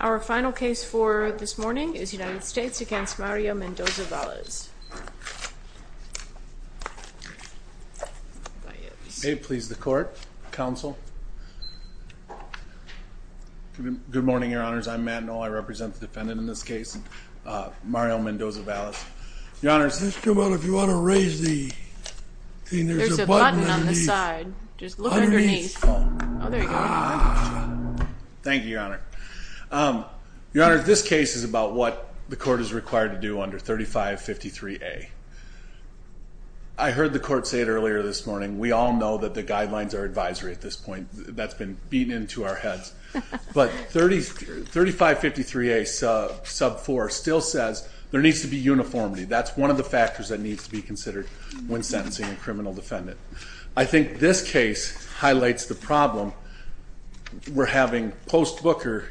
Our final case for this morning is United States v. Mario Mendoza-Valles May it please the court, counsel Good morning, your honors. I'm Matt Noll. I represent the defendant in this case, Mario Mendoza-Valles Your honors, this case is about what the court is required to do under 3553A I heard the court say it earlier this morning, we all know that the guidelines are advisory at this point That's been beaten into our heads. But 3553A sub 4 still says there needs to be uniformity That's one of the factors that needs to be considered when sentencing a criminal defendant I think this case highlights the problem we're having post Booker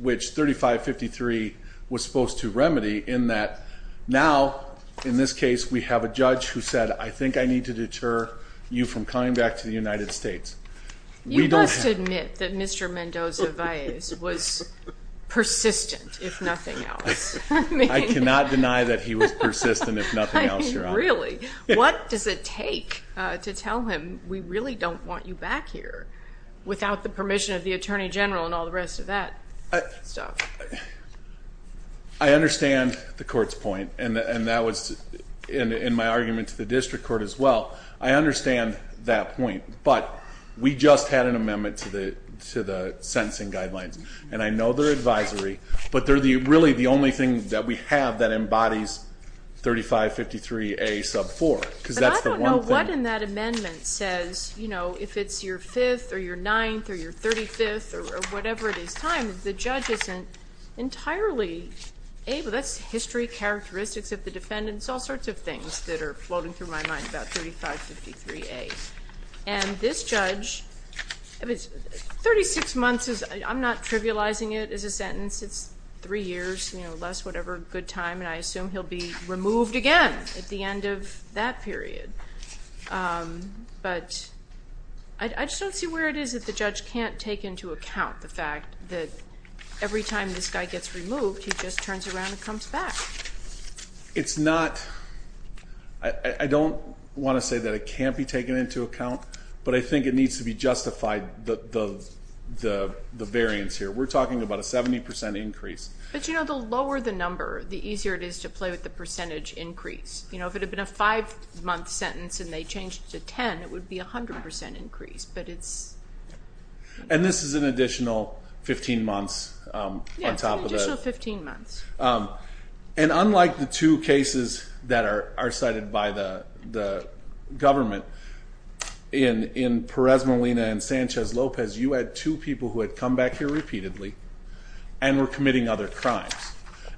Which 3553 was supposed to remedy in that now in this case we have a judge who said I think I need to deter you from coming back to the United States You must admit that Mr. Mendoza-Valles was persistent if nothing else I cannot deny that he was persistent if nothing else, your honor What does it take to tell him we really don't want you back here without the permission of the attorney general and all the rest of that stuff? I understand the court's point, and that was in my argument to the district court as well I understand that point, but we just had an amendment to the sentencing guidelines And I know they're advisory, but they're really the only thing that we have that embodies 3553A sub 4 I don't know what in that amendment says if it's your 5th or your 9th or your 35th or whatever it is But at the same time, the judge isn't entirely able, that's history, characteristics of the defendant It's all sorts of things that are floating through my mind about 3553A And this judge, 36 months, I'm not trivializing it as a sentence It's 3 years, less whatever good time, and I assume he'll be removed again at the end of that period But I just don't see where it is that the judge can't take into account the fact that every time this guy gets removed, he just turns around and comes back It's not, I don't want to say that it can't be taken into account, but I think it needs to be justified, the variance here We're talking about a 70% increase But you know, the lower the number, the easier it is to play with the percentage increase You know, if it had been a 5 month sentence and they changed it to 10, it would be a 100% increase And this is an additional 15 months on top of that Yes, an additional 15 months And unlike the two cases that are cited by the government, in Perez Molina and Sanchez Lopez, you had two people who had come back here repeatedly And were committing other crimes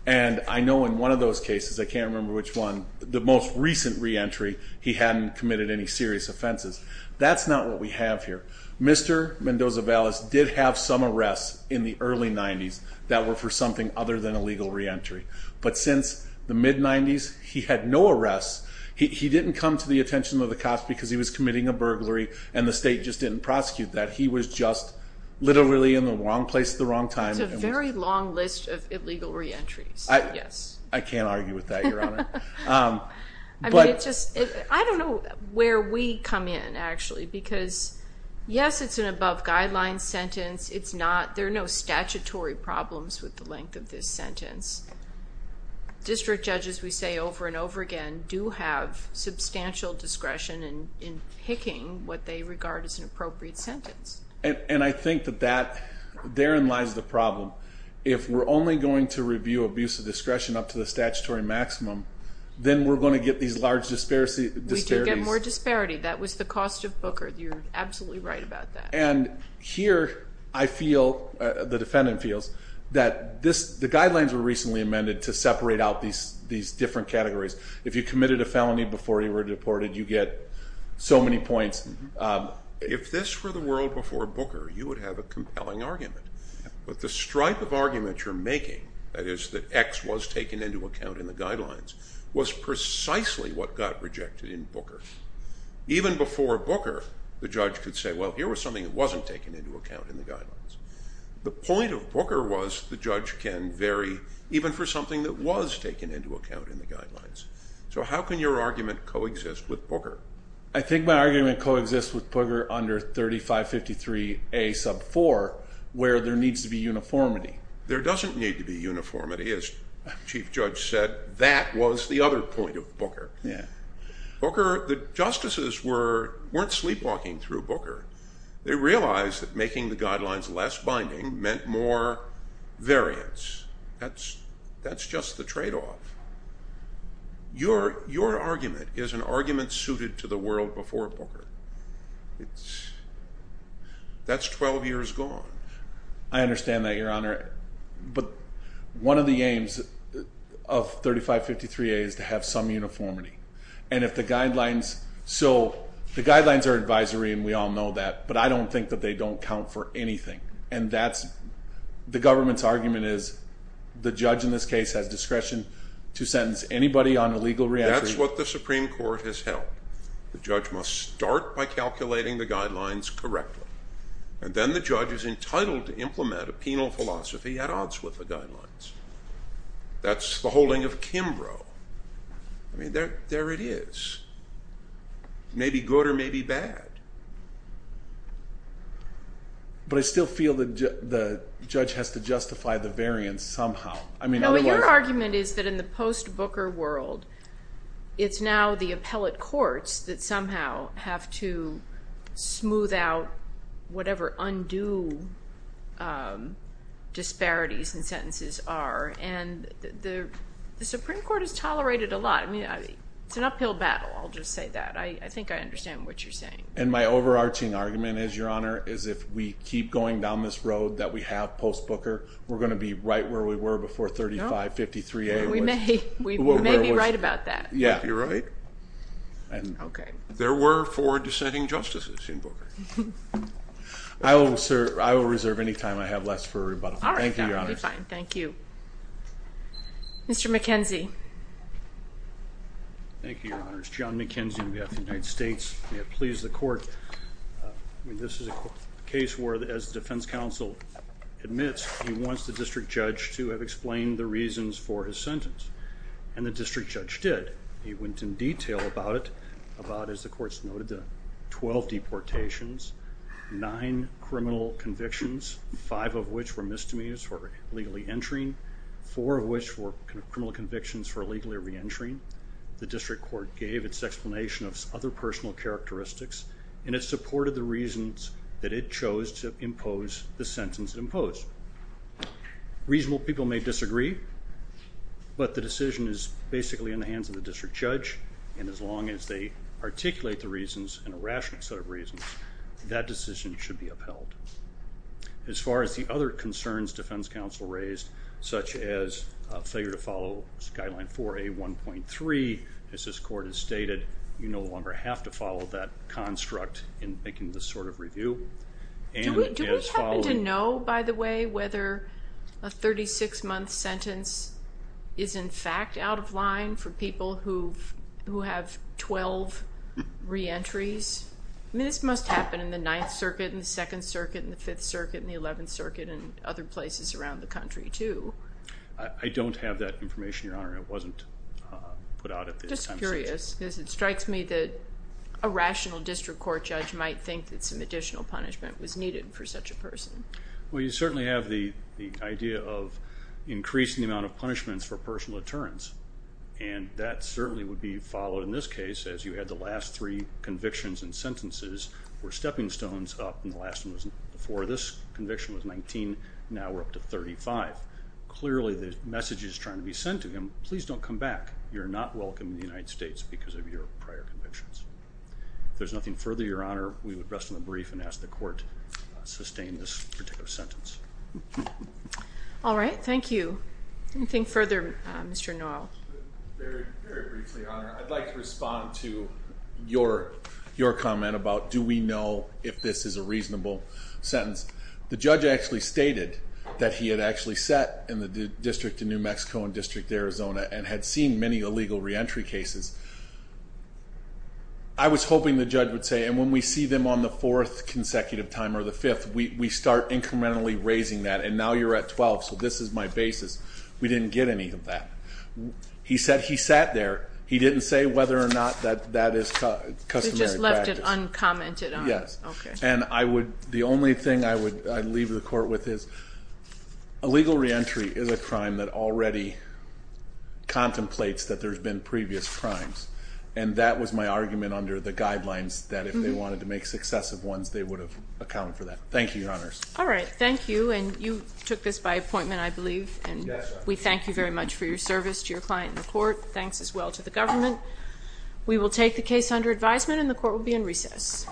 And I know in one of those cases, I can't remember which one, the most recent re-entry, he hadn't committed any serious offenses That's not what we have here Mr. Mendoza-Vallas did have some arrests in the early 90s that were for something other than a legal re-entry But since the mid-90s, he had no arrests He didn't come to the attention of the cops because he was committing a burglary, and the state just didn't prosecute that He was just literally in the wrong place at the wrong time There's a very long list of illegal re-entries I can't argue with that, Your Honor I don't know where we come in, actually Because yes, it's an above-guidelines sentence There are no statutory problems with the length of this sentence District judges, we say over and over again, do have substantial discretion in picking what they regard as an appropriate sentence And I think that therein lies the problem If we're only going to review abuse of discretion up to the statutory maximum, then we're going to get these large disparities We could get more disparity, that was the cost of Booker, you're absolutely right about that And here, I feel, the defendant feels, that the guidelines were recently amended to separate out these different categories If you committed a felony before you were deported, you get so many points If this were the world before Booker, you would have a compelling argument But the stripe of argument you're making, that is, that X was taken into account in the guidelines, was precisely what got rejected in Booker Even before Booker, the judge could say, well, here was something that wasn't taken into account in the guidelines The point of Booker was, the judge can vary even for something that was taken into account in the guidelines So how can your argument coexist with Booker? I think my argument coexists with Booker under 3553A sub 4, where there needs to be uniformity There doesn't need to be uniformity, as Chief Judge said, that was the other point of Booker Booker, the justices weren't sleepwalking through Booker They realized that making the guidelines less binding meant more variance That's just the trade-off Your argument is an argument suited to the world before Booker That's 12 years gone I understand that, Your Honor But one of the aims of 3553A is to have some uniformity And if the guidelines, so the guidelines are advisory and we all know that, but I don't think that they don't count for anything The government's argument is, the judge in this case has discretion to sentence anybody on illegal re-entry That's what the Supreme Court has held The judge must start by calculating the guidelines correctly And then the judge is entitled to implement a penal philosophy at odds with the guidelines That's the holding of Kimbrough I mean, there it is Maybe good or maybe bad But I still feel that the judge has to justify the variance somehow Your argument is that in the post-Booker world, it's now the appellate courts that somehow have to smooth out whatever undue disparities in sentences are And the Supreme Court has tolerated a lot It's an uphill battle, I'll just say that I think I understand what you're saying And my overarching argument is, Your Honor, is if we keep going down this road that we have post-Booker, we're going to be right where we were before 3553A We may be right about that You're right There were four dissenting justices in Booker I will reserve any time I have left for rebuttal Thank you, Your Honor Thank you Mr. McKenzie Thank you, Your Honors John McKenzie on behalf of the United States May it please the court This is a case where, as the defense counsel admits, he wants the district judge to have explained the reasons for his sentence And the district judge did He went in detail about it About, as the courts noted, the 12 deportations Nine criminal convictions Five of which were misdemeanors for illegally entering Four of which were criminal convictions for illegally re-entering The district court gave its explanation of other personal characteristics And it supported the reasons that it chose to impose the sentence it imposed Reasonable people may disagree But the decision is basically in the hands of the district judge And as long as they articulate the reasons in a rational set of reasons That decision should be upheld As far as the other concerns defense counsel raised Such as failure to follow guideline 4A1.3 As this court has stated You no longer have to follow that construct in making this sort of review Do we happen to know, by the way, whether a 36-month sentence Is in fact out of line for people who have 12 re-entries? I mean, this must happen in the 9th Circuit and the 2nd Circuit And the 5th Circuit and the 11th Circuit And other places around the country, too I don't have that information, Your Honor It wasn't put out at this time Just curious, because it strikes me that A rational district court judge might think That some additional punishment was needed for such a person Well, you certainly have the idea of Increasing the amount of punishments for personal deterrence And that certainly would be followed in this case As you had the last three convictions and sentences Were stepping stones up And the last one was before this conviction was 19 Now we're up to 35 Clearly the message is trying to be sent to him Please don't come back You're not welcome in the United States Because of your prior convictions If there's nothing further, Your Honor We would rest on the brief and ask the court All right, thank you Anything further, Mr. Norrell? Very briefly, Your Honor I'd like to respond to Your comment about Do we know if this is a reasonable sentence? The judge actually stated That he had actually sat in the District of New Mexico And District of Arizona And had seen many illegal re-entry cases I was hoping the judge would say And when we see them on the fourth consecutive time Or the fifth, we start incrementally raising that And now you're at 12 So this is my basis We didn't get any of that He said he sat there He didn't say whether or not that is customary practice You just left it uncommented on Yes And the only thing I would leave the court with is Illegal re-entry is a crime That already Contemplates that there's been previous crimes And that was my argument Under the guidelines That if they wanted to make successive ones They would have accounted for that Thank you, Your Honors All right, thank you And you took this by appointment, I believe And we thank you very much for your service To your client and the court Thanks as well to the government We will take the case under advisement And the court will be in recess